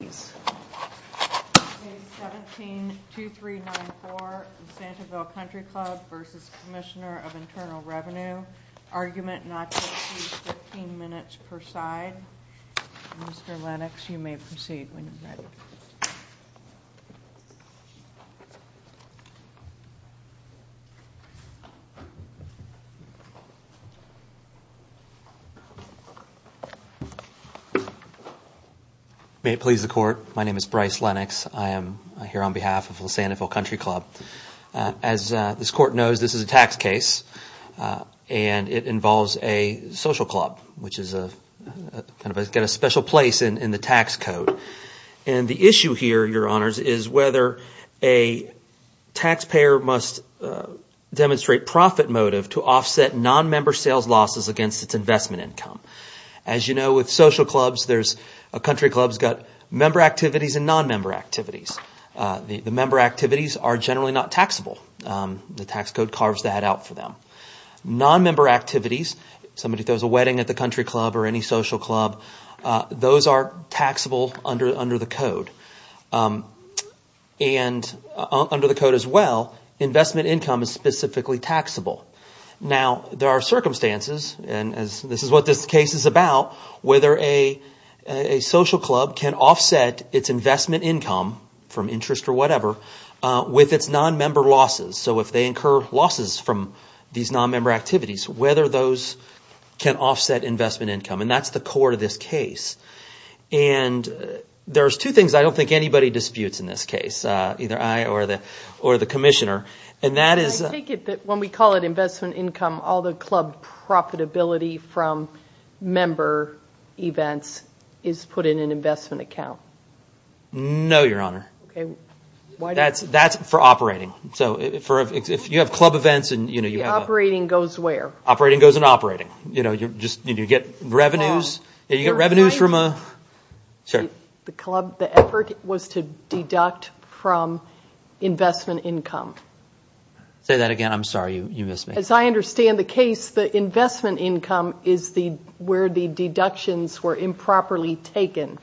Page 17, 2394, Santiville Country Club v. Commissioner of Internal Revenue, argument not to exceed 15 minutes per side. Mr. Lennox, you may proceed when you're ready. May it please the Court, my name is Bryce Lennox. I am here on behalf of Lasantville Country Club. As this Court knows, this is a tax case and it involves a social club, which has a special place in the tax code. And the issue here, Your Honors, is whether a taxpayer must demonstrate profit motive to offset nonmember sales losses against its investment income. As you know, with social clubs, there's – a country club's got member activities and nonmember activities. The member activities are generally not taxable. The tax code carves that out for them. Nonmember activities, somebody throws a wedding at the country club or any social club, those are taxable under the code. And under the code as well, investment income is specifically taxable. Now, there are circumstances, and this is what this case is about, whether a social club can offset its investment income from interest or whatever with its nonmember losses. So if they incur losses from these nonmember activities, whether those can offset investment income. And that's the core to this case. And there's two things I don't think anybody disputes in this case, either I or the Commissioner. And that is – I take it that when we call it investment income, all the club profitability from member events is put in an investment account. Okay, why – That's for operating. So if you have club events and, you know – The operating goes where? Operating goes in operating. You know, you get revenues from a – The club – the effort was to deduct from investment income. Say that again. I'm sorry. You missed me. As I understand the case, the investment income is where the deductions were improperly taken.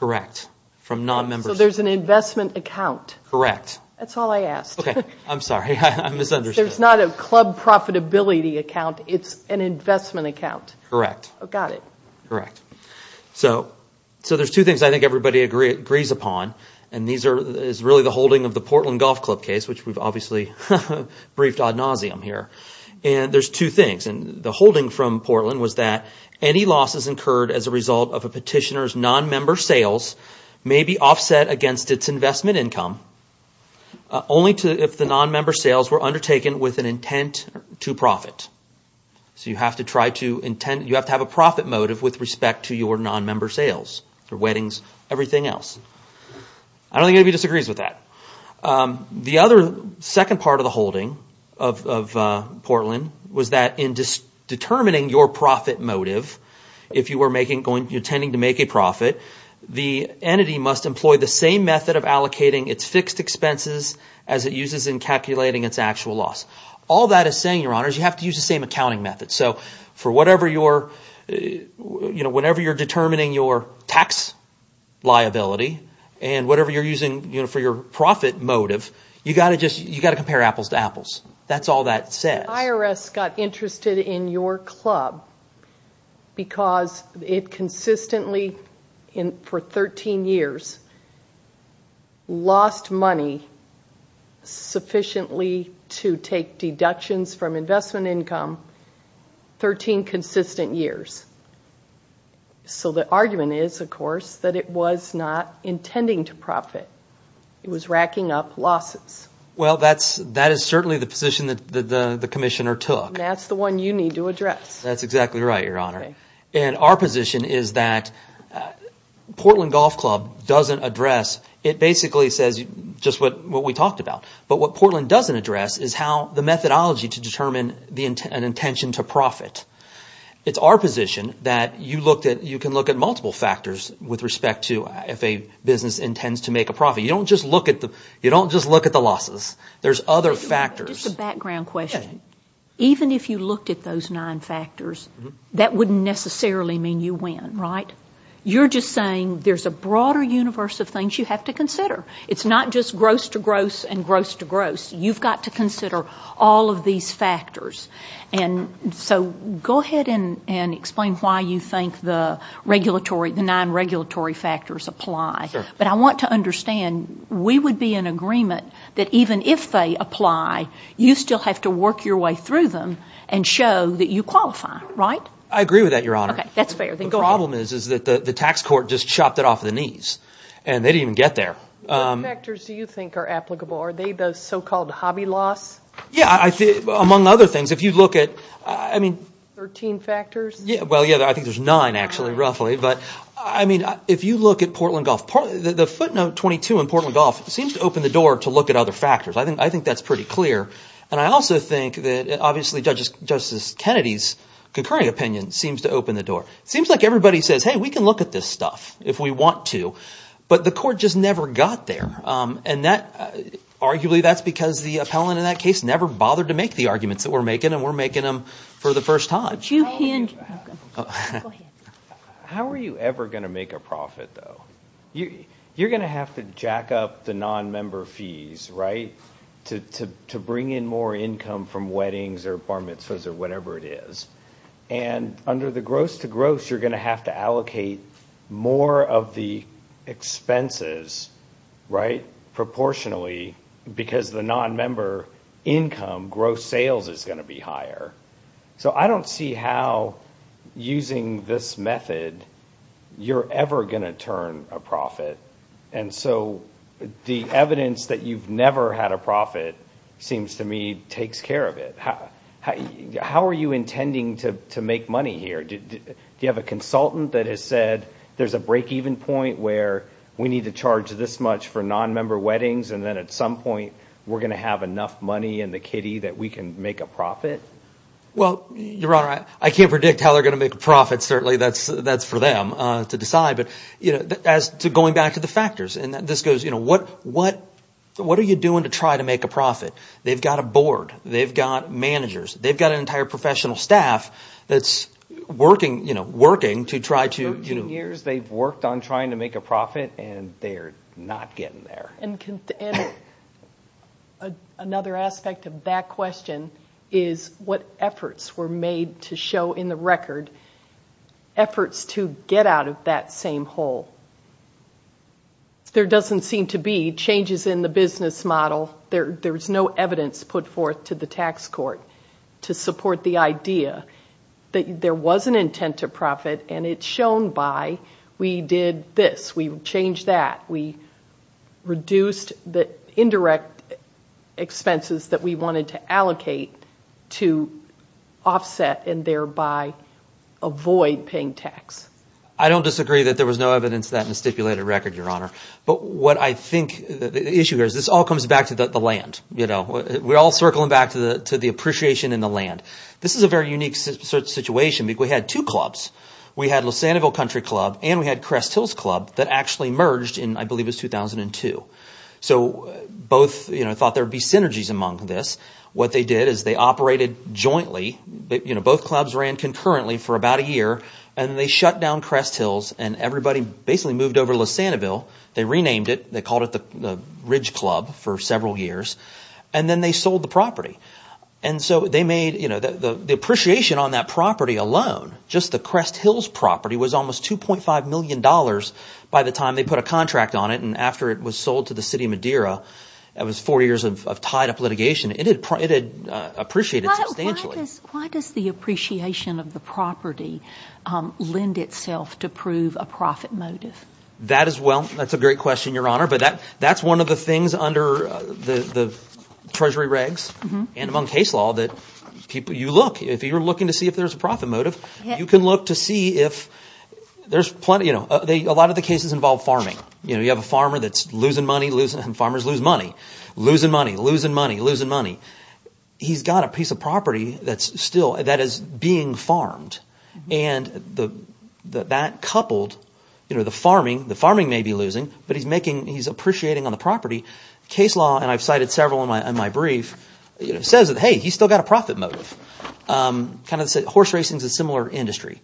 Correct, from nonmembers. So there's an investment account. Correct. That's all I asked. Okay, I'm sorry. I misunderstood. There's not a club profitability account. It's an investment account. Correct. Got it. Correct. So there's two things I think everybody agrees upon. And these are really the holding of the Portland Golf Club case, which we've obviously briefed ad nauseum here. And there's two things. And the holding from Portland was that any losses incurred as a result of a petitioner's nonmember sales may be offset against its investment income only if the nonmember sales were undertaken with an intent to profit. So you have to try to – you have to have a profit motive with respect to your nonmember sales for weddings, everything else. I don't think anybody disagrees with that. The other – second part of the holding of Portland was that in determining your profit motive, if you were making – you're intending to make a profit, the entity must employ the same method of allocating its fixed expenses as it uses in calculating its actual loss. All that is saying, Your Honors, you have to use the same accounting method. So for whatever your – whenever you're determining your tax liability and whatever you're using for your profit motive, you've got to just – you've got to compare apples to apples. That's all that says. in your club because it consistently, for 13 years, lost money sufficiently to take deductions from investment income, 13 consistent years. So the argument is, of course, that it was not intending to profit. It was racking up losses. Well, that is certainly the position that the commissioner took. That's the one you need to address. That's exactly right, Your Honor. Okay. And our position is that Portland Golf Club doesn't address – it basically says just what we talked about. But what Portland doesn't address is how – the methodology to determine an intention to profit. It's our position that you looked at – you can look at multiple factors with respect to if a business intends to make a profit. You don't just look at the losses. There's other factors. Just a background question. Even if you looked at those nine factors, that wouldn't necessarily mean you win, right? You're just saying there's a broader universe of things you have to consider. It's not just gross to gross and gross to gross. You've got to consider all of these factors. And so go ahead and explain why you think the regulatory – the nine regulatory factors apply. But I want to understand, we would be in agreement that even if they apply, you still have to work your way through them and show that you qualify, right? I agree with that, Your Honor. Okay, that's fair. The problem is that the tax court just chopped it off the knees, and they didn't even get there. What factors do you think are applicable? Are they the so-called hobby loss? Yeah, among other things. If you look at – I mean – Thirteen factors? Well, yeah, I think there's nine, actually, roughly. But, I mean, if you look at Portland Gulf, the footnote 22 in Portland Gulf seems to open the door to look at other factors. I think that's pretty clear. And I also think that obviously Justice Kennedy's concurring opinion seems to open the door. It seems like everybody says, hey, we can look at this stuff if we want to. But the court just never got there. And that – arguably that's because the appellant in that case never bothered to make the arguments that we're making, and we're making them for the first time. Go ahead. How are you ever going to make a profit, though? You're going to have to jack up the nonmember fees, right, to bring in more income from weddings or bar mitzvahs or whatever it is. And under the gross-to-gross, you're going to have to allocate more of the expenses, right, proportionally, because the nonmember income gross sales is going to be higher. So I don't see how using this method you're ever going to turn a profit. And so the evidence that you've never had a profit seems to me takes care of it. How are you intending to make money here? Do you have a consultant that has said there's a breakeven point where we need to charge this much for nonmember weddings, and then at some point we're going to have enough money in the kitty that we can make a profit? Well, Your Honor, I can't predict how they're going to make a profit. Certainly that's for them to decide. But as to going back to the factors, and this goes – what are you doing to try to make a profit? They've got a board. They've got managers. They've got an entire professional staff that's working to try to – For 13 years they've worked on trying to make a profit, and they're not getting there. And another aspect of that question is what efforts were made to show in the record, efforts to get out of that same hole. There doesn't seem to be changes in the business model. There's no evidence put forth to the tax court to support the idea that there was an intent to profit, and it's shown by we did this, we changed that, we reduced the indirect expenses that we wanted to allocate to offset and thereby avoid paying tax. I don't disagree that there was no evidence of that in the stipulated record, Your Honor. But what I think – the issue here is this all comes back to the land. We're all circling back to the appreciation in the land. This is a very unique situation because we had two clubs. We had Lissanaville Country Club and we had Crest Hills Club that actually merged in I believe it was 2002. So both thought there would be synergies among this. What they did is they operated jointly. Both clubs ran concurrently for about a year, and they shut down Crest Hills, and everybody basically moved over to Lissanaville. They renamed it. They called it the Ridge Club for several years, and then they sold the property. And so they made – the appreciation on that property alone, just the Crest Hills property, was almost $2.5 million by the time they put a contract on it. And after it was sold to the city of Madeira, it was four years of tied-up litigation. It had appreciated substantially. Why does the appreciation of the property lend itself to prove a profit motive? That is – well, that's a great question, Your Honor. But that's one of the things under the treasury regs and among case law that people – you look. If you're looking to see if there's a profit motive, you can look to see if there's plenty – a lot of the cases involve farming. You have a farmer that's losing money. Farmers lose money, losing money, losing money, losing money. He's got a piece of property that's still – that is being farmed. And that coupled – the farming may be losing, but he's making – he's appreciating on the property. Case law, and I've cited several in my brief, says that, hey, he's still got a profit motive. Kind of horse racing is a similar industry.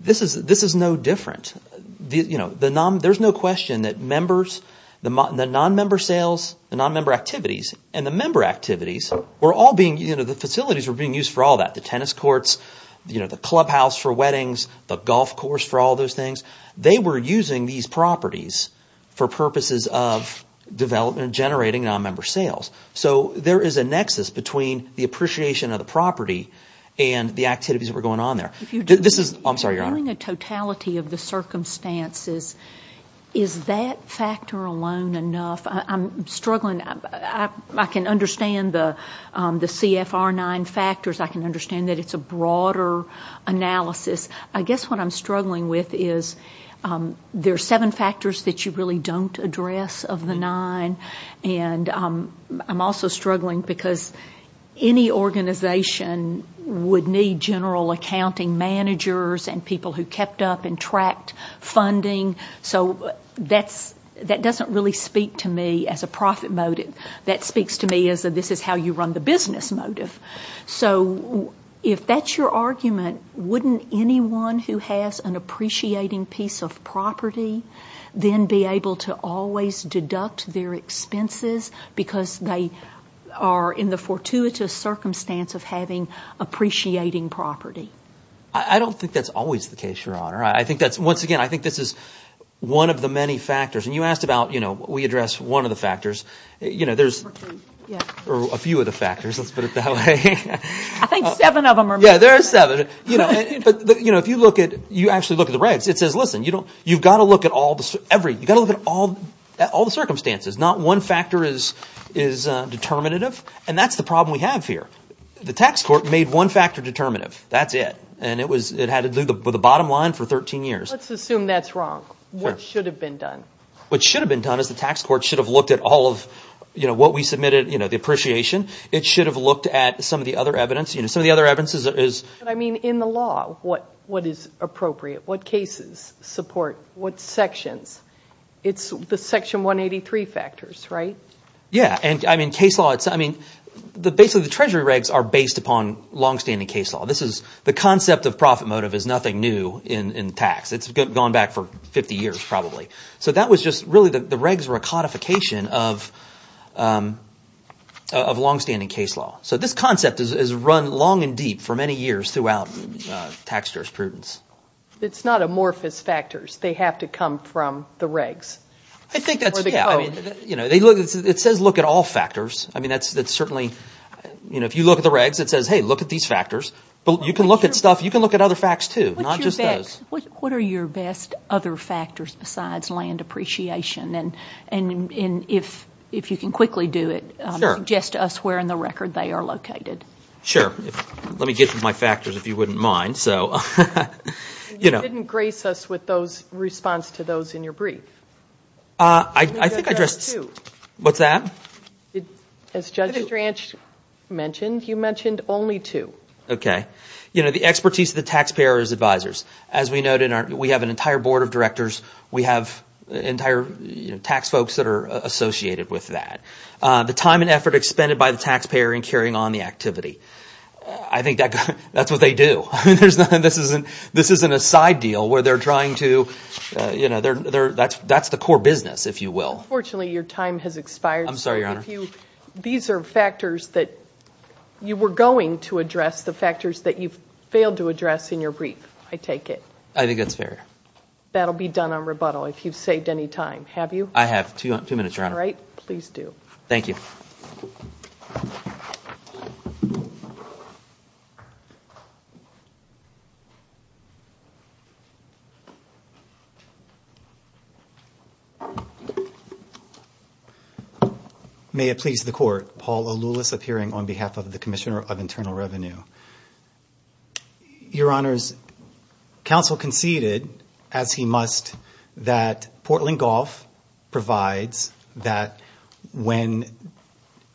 This is no different. There's no question that members – the non-member sales, the non-member activities, and the member activities were all being – the facilities were being used for all that. The tennis courts, the clubhouse for weddings, the golf course for all those things. They were using these properties for purposes of development and generating non-member sales. So there is a nexus between the appreciation of the property and the activities that were going on there. This is – I'm sorry, Your Honor. If you're doing a totality of the circumstances, is that factor alone enough? I'm struggling. I can understand the CFR9 factors. I can understand that it's a broader analysis. I guess what I'm struggling with is there are seven factors that you really don't address of the nine. And I'm also struggling because any organization would need general accounting managers and people who kept up and tracked funding. So that doesn't really speak to me as a profit motive. That speaks to me as a this is how you run the business motive. So if that's your argument, wouldn't anyone who has an appreciating piece of property then be able to always deduct their expenses because they are in the fortuitous circumstance of having appreciating property? I don't think that's always the case, Your Honor. I think that's – once again, I think this is one of the many factors. And you asked about we address one of the factors. There's a few of the factors. Let's put it that way. I think seven of them are – Yeah, there are seven. But if you look at – you actually look at the regs. It says, listen, you've got to look at all the circumstances. Not one factor is determinative. And that's the problem we have here. The tax court made one factor determinative. That's it. And it had to do with the bottom line for 13 years. Let's assume that's wrong. What should have been done? What should have been done is the tax court should have looked at all of what we submitted, the appreciation. It should have looked at some of the other evidence. Some of the other evidence is – But I mean in the law, what is appropriate? What cases support what sections? It's the Section 183 factors, right? Yeah, and I mean case law – I mean basically the Treasury regs are based upon longstanding case law. This is – the concept of profit motive is nothing new in tax. It's gone back for 50 years probably. So that was just – really the regs were a codification of longstanding case law. So this concept has run long and deep for many years throughout tax jurisprudence. It's not amorphous factors. They have to come from the regs. I think that's – yeah, I mean they look – it says look at all factors. I mean that's certainly – if you look at the regs, it says, hey, look at these factors. But you can look at stuff – you can look at other facts too, not just those. What are your best other factors besides land appreciation? And if you can quickly do it, suggest to us where in the record they are located. Sure. Let me get to my factors if you wouldn't mind. You didn't grace us with those – response to those in your brief. I think I addressed – what's that? As Judge Dranch mentioned, you mentioned only two. Okay. The expertise of the taxpayer as advisors. As we noted, we have an entire board of directors. We have entire tax folks that are associated with that. The time and effort expended by the taxpayer in carrying on the activity. I think that's what they do. This isn't a side deal where they're trying to – that's the core business, if you will. I'm sorry, Your Honor. These are factors that you were going to address. The factors that you've failed to address in your brief, I take it. I think that's fair. That will be done on rebuttal if you've saved any time. Have you? I have. Two minutes, Your Honor. All right. Please do. Thank you. May it please the Court. Paul O'Loulis appearing on behalf of the Commissioner of Internal Revenue. Your Honor, counsel conceded, as he must, that Portland Golf provides that when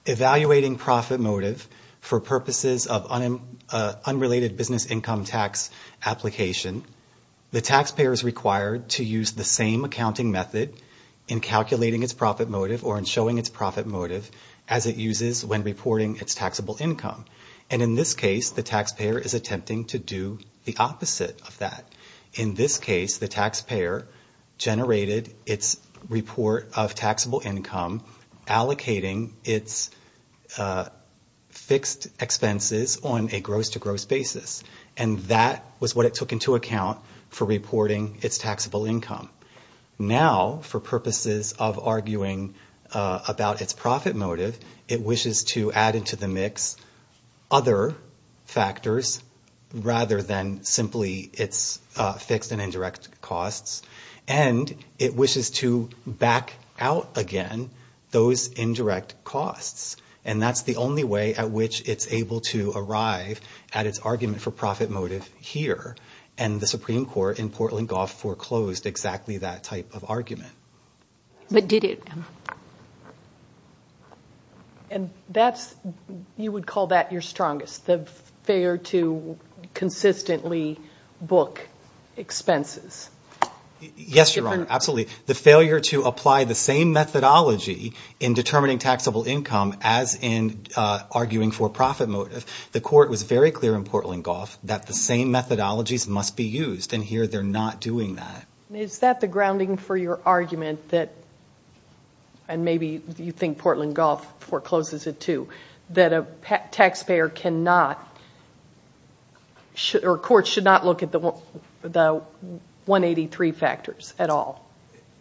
evaluating profit motive for purposes of unrelated business income tax application, the taxpayer is required to use the same accounting method in calculating its profit motive or in showing its profit motive as it uses when reporting its taxable income. And in this case, the taxpayer is attempting to do the opposite of that. In this case, the taxpayer generated its report of taxable income, allocating its fixed expenses on a gross-to-gross basis, and that was what it took into account for reporting its taxable income. Now, for purposes of arguing about its profit motive, it wishes to add into the mix other factors rather than simply its fixed and indirect costs, and it wishes to back out again those indirect costs. And that's the only way at which it's able to arrive at its argument for profit motive here. And the Supreme Court in Portland Golf foreclosed exactly that type of argument. But did it? And you would call that your strongest, the failure to consistently book expenses? Yes, Your Honor, absolutely. The failure to apply the same methodology in determining taxable income as in arguing for profit motive. The court was very clear in Portland Golf that the same methodologies must be used, and here they're not doing that. Is that the grounding for your argument that, and maybe you think Portland Golf forecloses it too, that a taxpayer cannot or a court should not look at the 183 factors at all?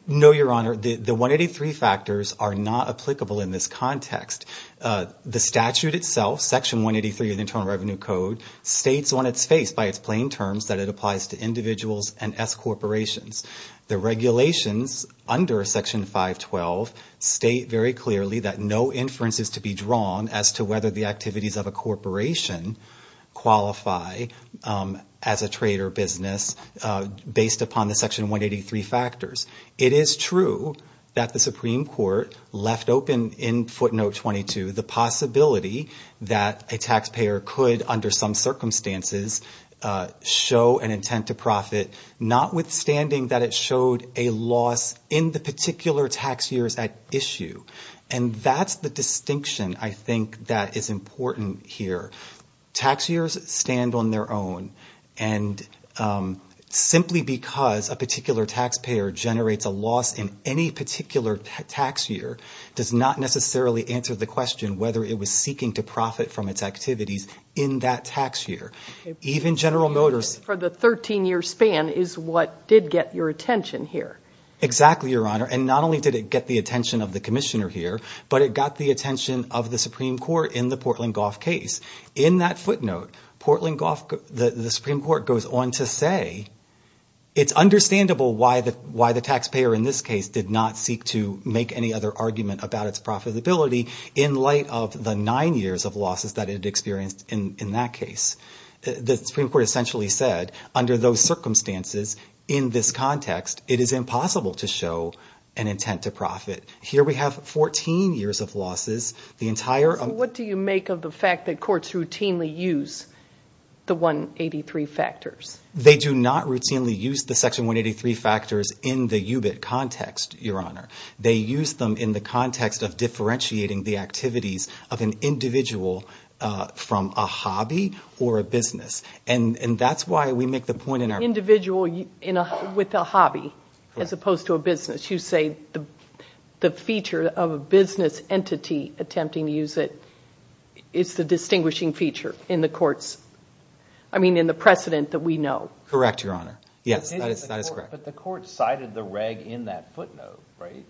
No, Your Honor, the 183 factors are not applicable in this context. The statute itself, Section 183 of the Internal Revenue Code, states on its face by its plain terms that it applies to individuals and S corporations. The regulations under Section 512 state very clearly that no inferences to be drawn as to whether the activities of a corporation qualify as a trade or business based upon the Section 183 factors. It is true that the Supreme Court left open in footnote 22 the possibility that a taxpayer could, under some circumstances, show an intent to profit, notwithstanding that it showed a loss in the particular tax years at issue. And that's the distinction I think that is important here. Tax years stand on their own, and simply because a particular taxpayer generates a loss in any particular tax year does not necessarily answer the question whether it was seeking to profit from its activities in that tax year. Even General Motors- For the 13-year span is what did get your attention here. Exactly, Your Honor, and not only did it get the attention of the commissioner here, but it got the attention of the Supreme Court in the Portland Golf case. In that footnote, the Supreme Court goes on to say, it's understandable why the taxpayer in this case did not seek to make any other argument about its profitability in light of the nine years of losses that it experienced in that case. The Supreme Court essentially said, under those circumstances, in this context, it is impossible to show an intent to profit. Here we have 14 years of losses, the entire- So what do you make of the fact that courts routinely use the 183 factors? They do not routinely use the Section 183 factors in the UBIT context, Your Honor. They use them in the context of differentiating the activities of an individual from a hobby or a business. And that's why we make the point in our- Individual with a hobby as opposed to a business. You say the feature of a business entity attempting to use it is the distinguishing feature in the courts- I mean, in the precedent that we know. Correct, Your Honor. Yes, that is correct. But the court cited the reg in that footnote, right?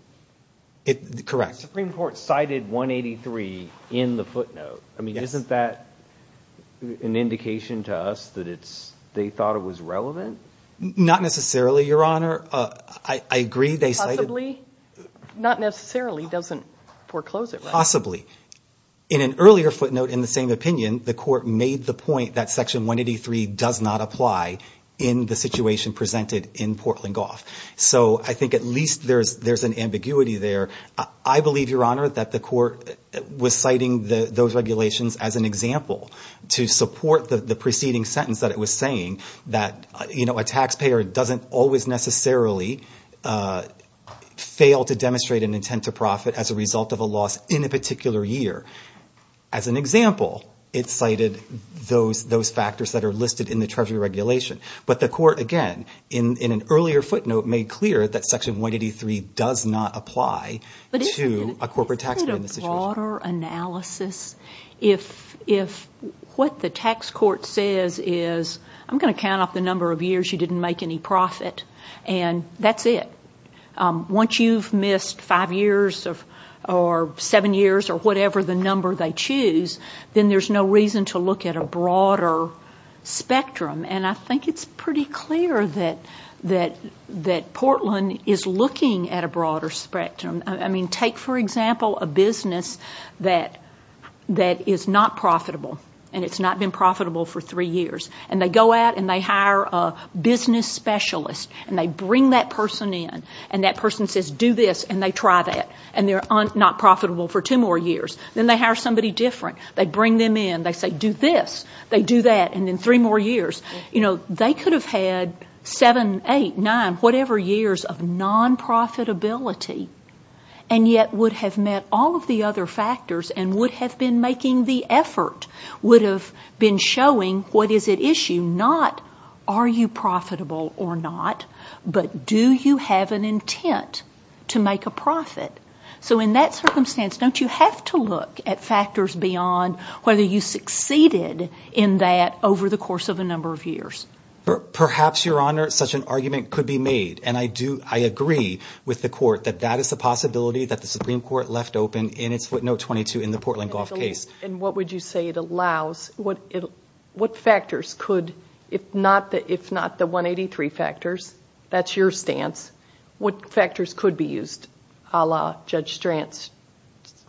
Correct. The Supreme Court cited 183 in the footnote. I mean, isn't that an indication to us that they thought it was relevant? Not necessarily, Your Honor. I agree they cited- Possibly? Not necessarily doesn't foreclose it, right? Possibly. In an earlier footnote in the same opinion, the court made the point that Section 183 does not apply in the situation presented in Portland Golf. So I think at least there's an ambiguity there. I believe, Your Honor, that the court was citing those regulations as an example to support the preceding sentence that it was saying. That, you know, a taxpayer doesn't always necessarily fail to demonstrate an intent to profit as a result of a loss in a particular year. As an example, it cited those factors that are listed in the Treasury regulation. But the court, again, in an earlier footnote, made clear that Section 183 does not apply to a corporate taxpayer in the situation. If what the tax court says is, I'm going to count off the number of years you didn't make any profit, and that's it. Once you've missed five years or seven years or whatever the number they choose, then there's no reason to look at a broader spectrum. And I think it's pretty clear that Portland is looking at a broader spectrum. I mean, take, for example, a business that is not profitable, and it's not been profitable for three years. And they go out and they hire a business specialist, and they bring that person in. And that person says, do this, and they try that, and they're not profitable for two more years. Then they hire somebody different. They bring them in. They say, do this. They do that. And then three more years. You know, they could have had seven, eight, nine, whatever years of non-profitability, and yet would have met all of the other factors and would have been making the effort, would have been showing what is at issue, not are you profitable or not, but do you have an intent to make a profit. So in that circumstance, don't you have to look at factors beyond whether you succeeded in that over the course of a number of years? Perhaps, Your Honor, such an argument could be made. And I agree with the court that that is a possibility that the Supreme Court left open in its footnote 22 in the Portland Gulf case. And what would you say it allows? What factors could, if not the 183 factors, that's your stance, what factors could be used a la Judge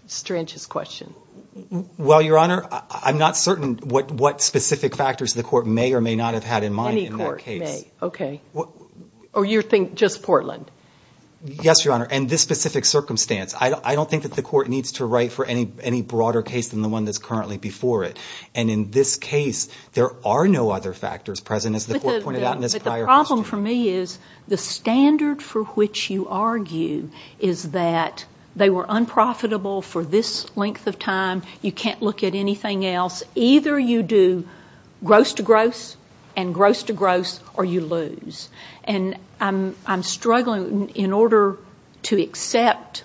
Strange's question? Well, Your Honor, I'm not certain what specific factors the court may or may not have had in mind in that case. Any court may. Okay. Or you think just Portland? Yes, Your Honor. And this specific circumstance. I don't think that the court needs to write for any broader case than the one that's currently before it. And in this case, there are no other factors present, as the court pointed out in this prior question. But the problem for me is the standard for which you argue is that they were unprofitable for this length of time. You can't look at anything else. Either you do gross to gross and gross to gross or you lose. And I'm struggling. In order to accept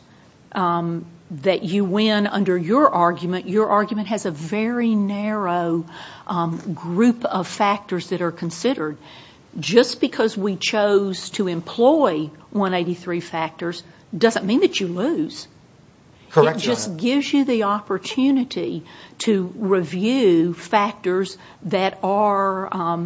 that you win under your argument, your argument has a very narrow group of factors that are considered. Just because we chose to employ 183 factors doesn't mean that you lose. Correct, Your Honor. This gives you the opportunity to review factors that are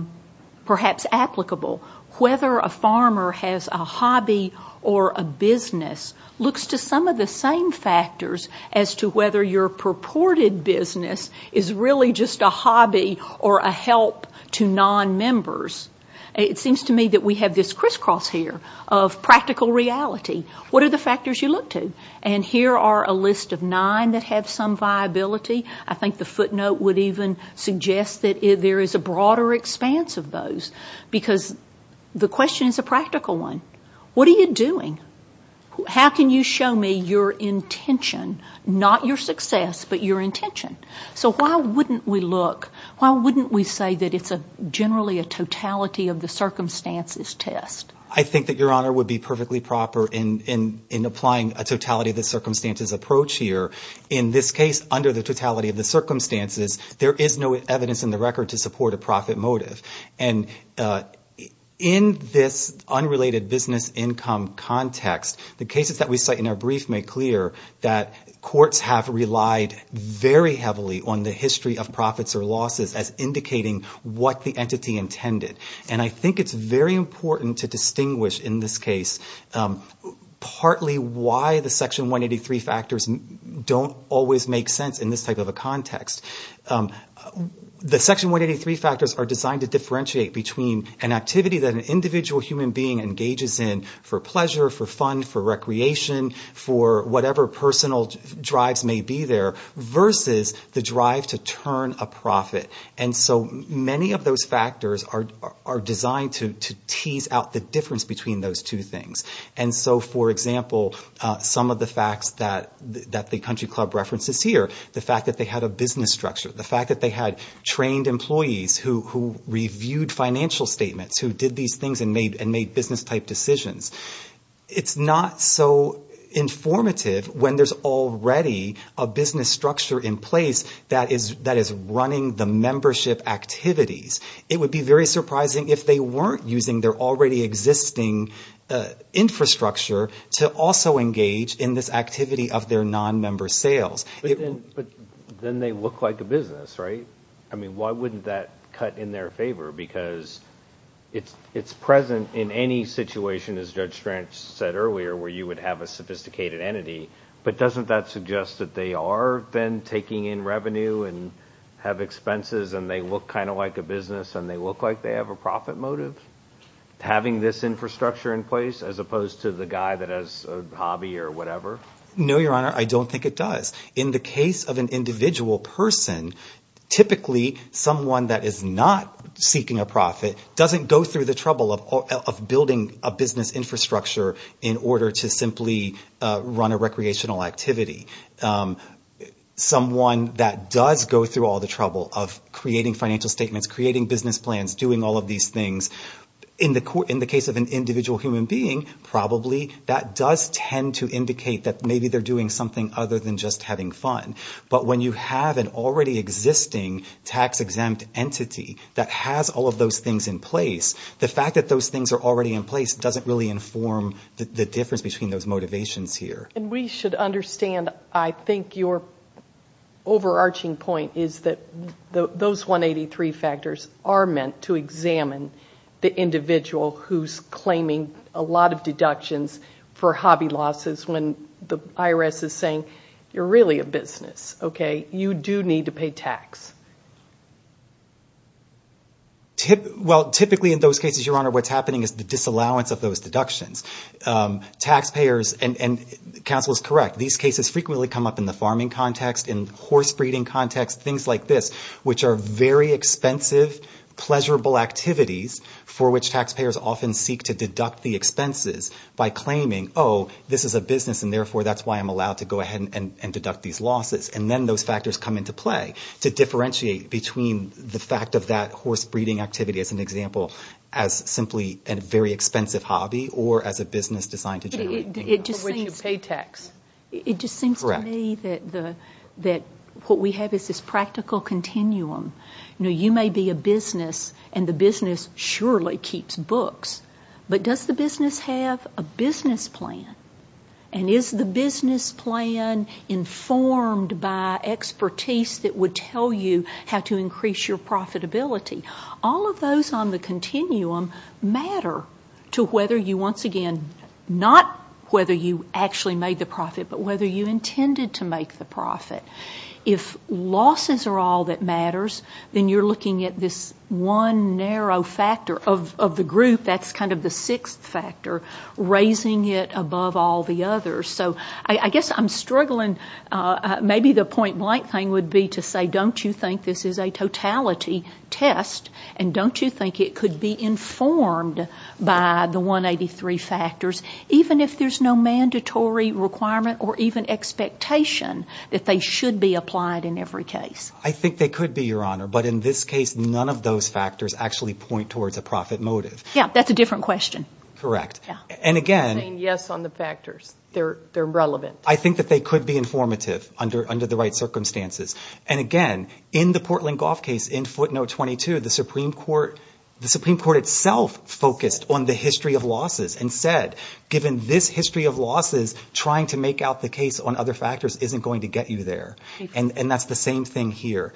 perhaps applicable. Whether a farmer has a hobby or a business looks to some of the same factors as to whether your purported business is really just a hobby or a help to nonmembers. It seems to me that we have this crisscross here of practical reality. What are the factors you look to? And here are a list of nine that have some viability. I think the footnote would even suggest that there is a broader expanse of those. Because the question is a practical one. What are you doing? How can you show me your intention? Not your success, but your intention. So why wouldn't we look, why wouldn't we say that it's generally a totality of the circumstances test? I think that, Your Honor, would be perfectly proper in applying a totality of the circumstances approach here. In this case, under the totality of the circumstances, there is no evidence in the record to support a profit motive. And in this unrelated business income context, the cases that we cite in our brief make clear that courts have relied very heavily on the history of profits or losses as indicating what the entity intended. And I think it's very important to distinguish in this case partly why the Section 183 factors don't always make sense in this type of a context. The Section 183 factors are designed to differentiate between an activity that an individual human being engages in for pleasure, for fun, for recreation, for whatever personal drives may be there, versus the drive to turn a profit. And so many of those factors are designed to tease out the difference between those two things. And so, for example, some of the facts that the country club references here, the fact that they had a business structure, the fact that they had trained employees who reviewed financial statements, who did these things and made business-type decisions. It's not so informative when there's already a business structure in place that is running the membership activities. It would be very surprising if they weren't using their already existing infrastructure to also engage in this activity of their non-member sales. But then they look like a business, right? I mean, why wouldn't that cut in their favor? Because it's present in any situation, as Judge Strang said earlier, where you would have a sophisticated entity. But doesn't that suggest that they are then taking in revenue and have expenses and they look kind of like a business and they look like they have a profit motive? Having this infrastructure in place as opposed to the guy that has a hobby or whatever? No, Your Honor, I don't think it does. In the case of an individual person, typically someone that is not seeking a profit doesn't go through the trouble of building a business infrastructure in order to simply run a recreational activity. Someone that does go through all the trouble of creating financial statements, creating business plans, doing all of these things, in the case of an individual human being, probably that does tend to indicate that maybe they're doing something other than just having fun. But when you have an already existing tax-exempt entity that has all of those things in place, the fact that those things are already in place doesn't really inform the difference between those motivations here. And we should understand, I think, your overarching point is that those 183 factors are meant to examine the individual who's claiming a lot of deductions for hobby losses when the IRS is saying, you're really a business, okay? You do need to pay tax. Well, typically in those cases, Your Honor, what's happening is the disallowance of those deductions. Taxpayers, and counsel is correct, these cases frequently come up in the farming context, in horse breeding context, things like this, which are very expensive, pleasurable activities for which taxpayers often seek to deduct the expenses by claiming, oh, this is a business and therefore that's why I'm allowed to go ahead and deduct these losses. And then those factors come into play to differentiate between the fact of that horse breeding activity, as an example, as simply a very expensive hobby or as a business designed to generate income. For which you pay tax. It just seems to me that what we have is this practical continuum. You may be a business, and the business surely keeps books, but does the business have a business plan? And is the business plan informed by expertise that would tell you how to increase your profitability? All of those on the continuum matter to whether you, once again, not whether you actually made the profit, but whether you intended to make the profit. If losses are all that matters, then you're looking at this one narrow factor of the group, that's kind of the sixth factor, raising it above all the others. So I guess I'm struggling. Maybe the point blank thing would be to say, don't you think this is a totality test, and don't you think it could be informed by the 183 factors, even if there's no mandatory requirement or even expectation that they should be applied in every case? I think they could be, Your Honor, but in this case, none of those factors actually point towards a profit motive. Yeah, that's a different question. Correct. You're saying yes on the factors. They're relevant. I think that they could be informative under the right circumstances. And again, in the Portland Golf case, in footnote 22, the Supreme Court itself focused on the history of losses and said, given this history of losses, trying to make out the case on other factors isn't going to get you there. And that's the same thing here.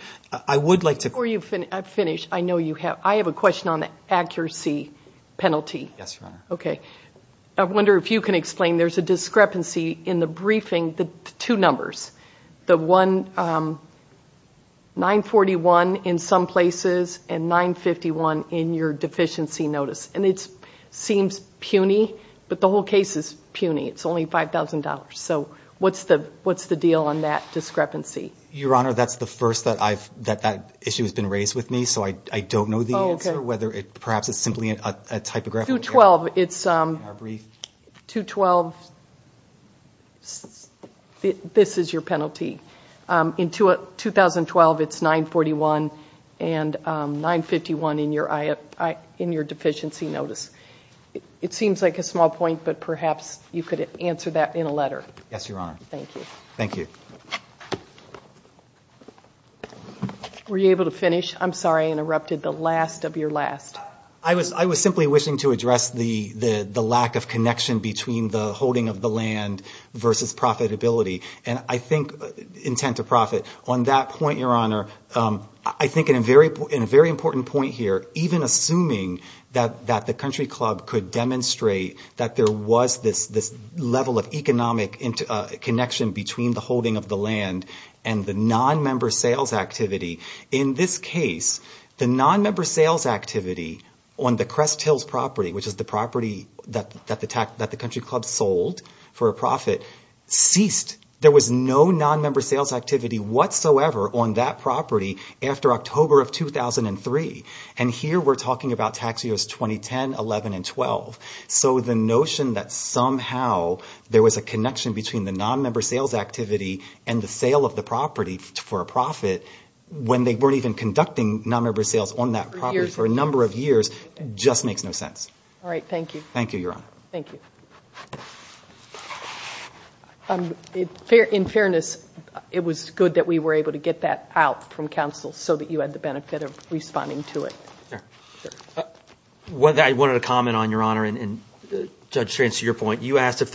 Before you finish, I have a question on the accuracy penalty. Yes, Your Honor. Okay. I wonder if you can explain, there's a discrepancy in the briefing, the two numbers, the 941 in some places and 951 in your deficiency notice. And it seems puny, but the whole case is puny. It's only $5,000. So what's the deal on that discrepancy? Your Honor, that's the first that that issue has been raised with me, so I don't know the answer, whether perhaps it's simply a typographical error. 212, this is your penalty. In 2012, it's 941 and 951 in your deficiency notice. It seems like a small point, but perhaps you could answer that in a letter. Yes, Your Honor. Thank you. Thank you. Were you able to finish? I'm sorry, I interrupted the last of your last. I was simply wishing to address the lack of connection between the holding of the land versus profitability, and I think intent to profit. On that point, Your Honor, I think in a very important point here, even assuming that the Country Club could demonstrate that there was this level of economic connection between the holding of the land and the nonmember sales activity. In this case, the nonmember sales activity on the Crest Hills property, which is the property that the Country Club sold for a profit, ceased. There was no nonmember sales activity whatsoever on that property after October of 2003. And here we're talking about tax years 2010, 11, and 12. So the notion that somehow there was a connection between the nonmember sales activity and the sale of the property for a profit when they weren't even conducting nonmember sales on that property for a number of years just makes no sense. All right, thank you. Thank you, Your Honor. Thank you. In fairness, it was good that we were able to get that out from counsel so that you had the benefit of responding to it. I wanted to comment on, Your Honor, and Judge Strantz, to your point. You asked if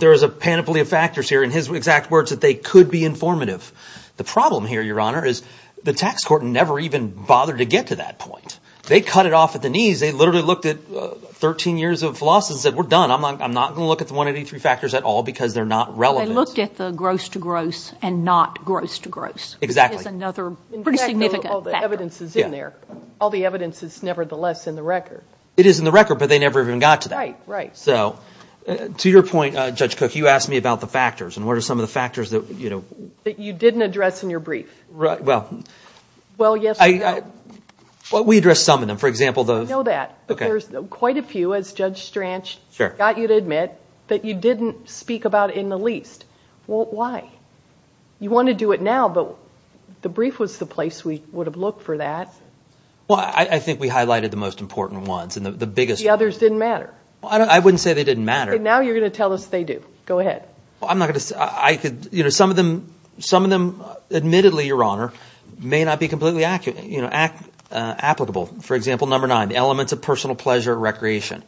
there was a panoply of factors here, and his exact words that they could be informative. The problem here, Your Honor, is the tax court never even bothered to get to that point. They cut it off at the knees. They literally looked at 13 years of philosophy and said, we're done. I'm not going to look at the 183 factors at all because they're not relevant. They looked at the gross to gross and not gross to gross. Exactly. That is another pretty significant factor. All the evidence is in there. All the evidence is nevertheless in the record. It is in the record, but they never even got to that. Right, right. So to your point, Judge Cook, you asked me about the factors, and what are some of the factors that, you know? That you didn't address in your brief. Right, well. Well, yes or no. We addressed some of them. For example, those. I know that, but there's quite a few, as Judge Stranz got you to admit, that you didn't speak about in the least. Well, why? You want to do it now, but the brief was the place we would have looked for that. Well, I think we highlighted the most important ones and the biggest ones. The others didn't matter. I wouldn't say they didn't matter. Now you're going to tell us they do. Go ahead. Well, I'm not going to. Some of them, admittedly, Your Honor, may not be completely applicable. For example, number nine, the elements of personal pleasure and recreation.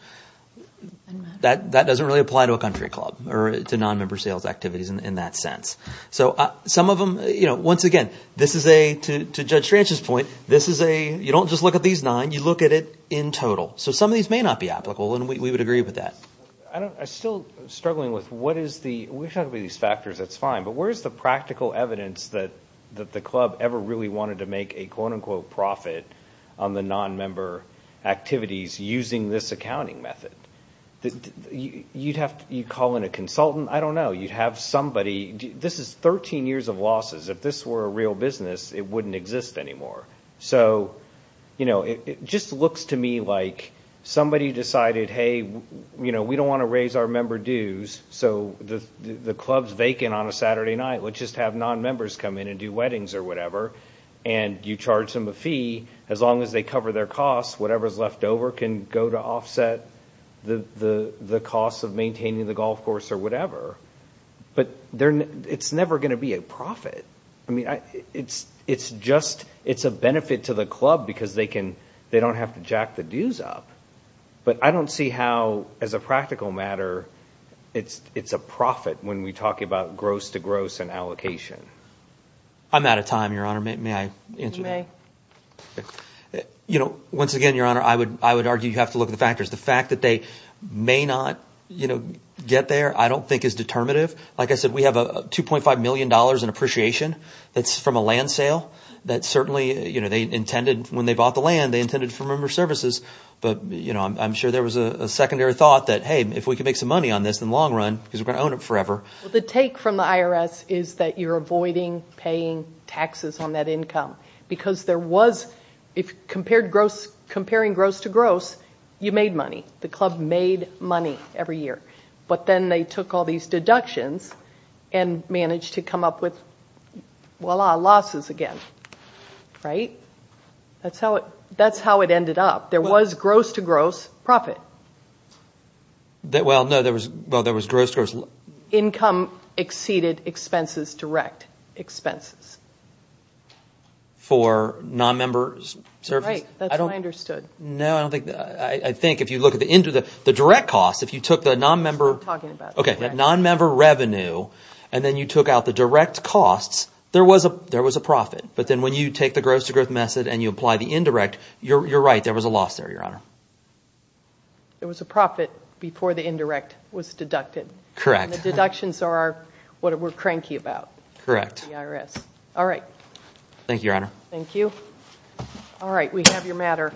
That doesn't really apply to a country club or to nonmember sales activities in that sense. So some of them, you know, once again, this is a, to Judge Stranz's point, this is a, you don't just look at these nine. You look at it in total. So some of these may not be applicable, and we would agree with that. I don't, I'm still struggling with what is the, we've talked about these factors. That's fine. But where's the practical evidence that the club ever really wanted to make a quote-unquote profit on the nonmember activities using this accounting method? You'd have to, you'd call in a consultant. I don't know. You'd have somebody, this is 13 years of losses. If this were a real business, it wouldn't exist anymore. So, you know, it just looks to me like somebody decided, hey, you know, we don't want to raise our member dues. So the club's vacant on a Saturday night. Let's just have nonmembers come in and do weddings or whatever. And you charge them a fee. As long as they cover their costs, whatever's left over can go to offset the costs of maintaining the golf course or whatever. But it's never going to be a profit. I mean, it's just, it's a benefit to the club because they can, they don't have to jack the dues up. But I don't see how, as a practical matter, it's a profit when we talk about gross-to-gross and allocation. I'm out of time, Your Honor. May I answer that? You may. You know, once again, Your Honor, I would argue you have to look at the factors. The fact that they may not, you know, get there I don't think is determinative. Like I said, we have $2.5 million in appreciation that's from a land sale that certainly, you know, they intended, when they bought the land, they intended for member services. But, you know, I'm sure there was a secondary thought that, hey, if we can make some money on this in the long run, because we're going to own it forever. Well, the take from the IRS is that you're avoiding paying taxes on that income. Because there was, if compared gross, comparing gross-to-gross, you made money. The club made money every year. But then they took all these deductions and managed to come up with, voila, losses again. Right? That's how it ended up. There was gross-to-gross profit. Well, no, there was gross-to-gross. Income exceeded expenses, direct expenses. For non-member services? Right. That's what I understood. No, I don't think, I think if you look at the direct costs, if you took the non-member. That's what I'm talking about. Okay, that non-member revenue, and then you took out the direct costs, there was a profit. But then when you take the gross-to-gross method and you apply the indirect, you're right, there was a loss there, Your Honor. There was a profit before the indirect was deducted. Correct. And the deductions are what we're cranky about. Correct. The IRS. All right. Thank you, Your Honor. Thank you. All right, we have your matter.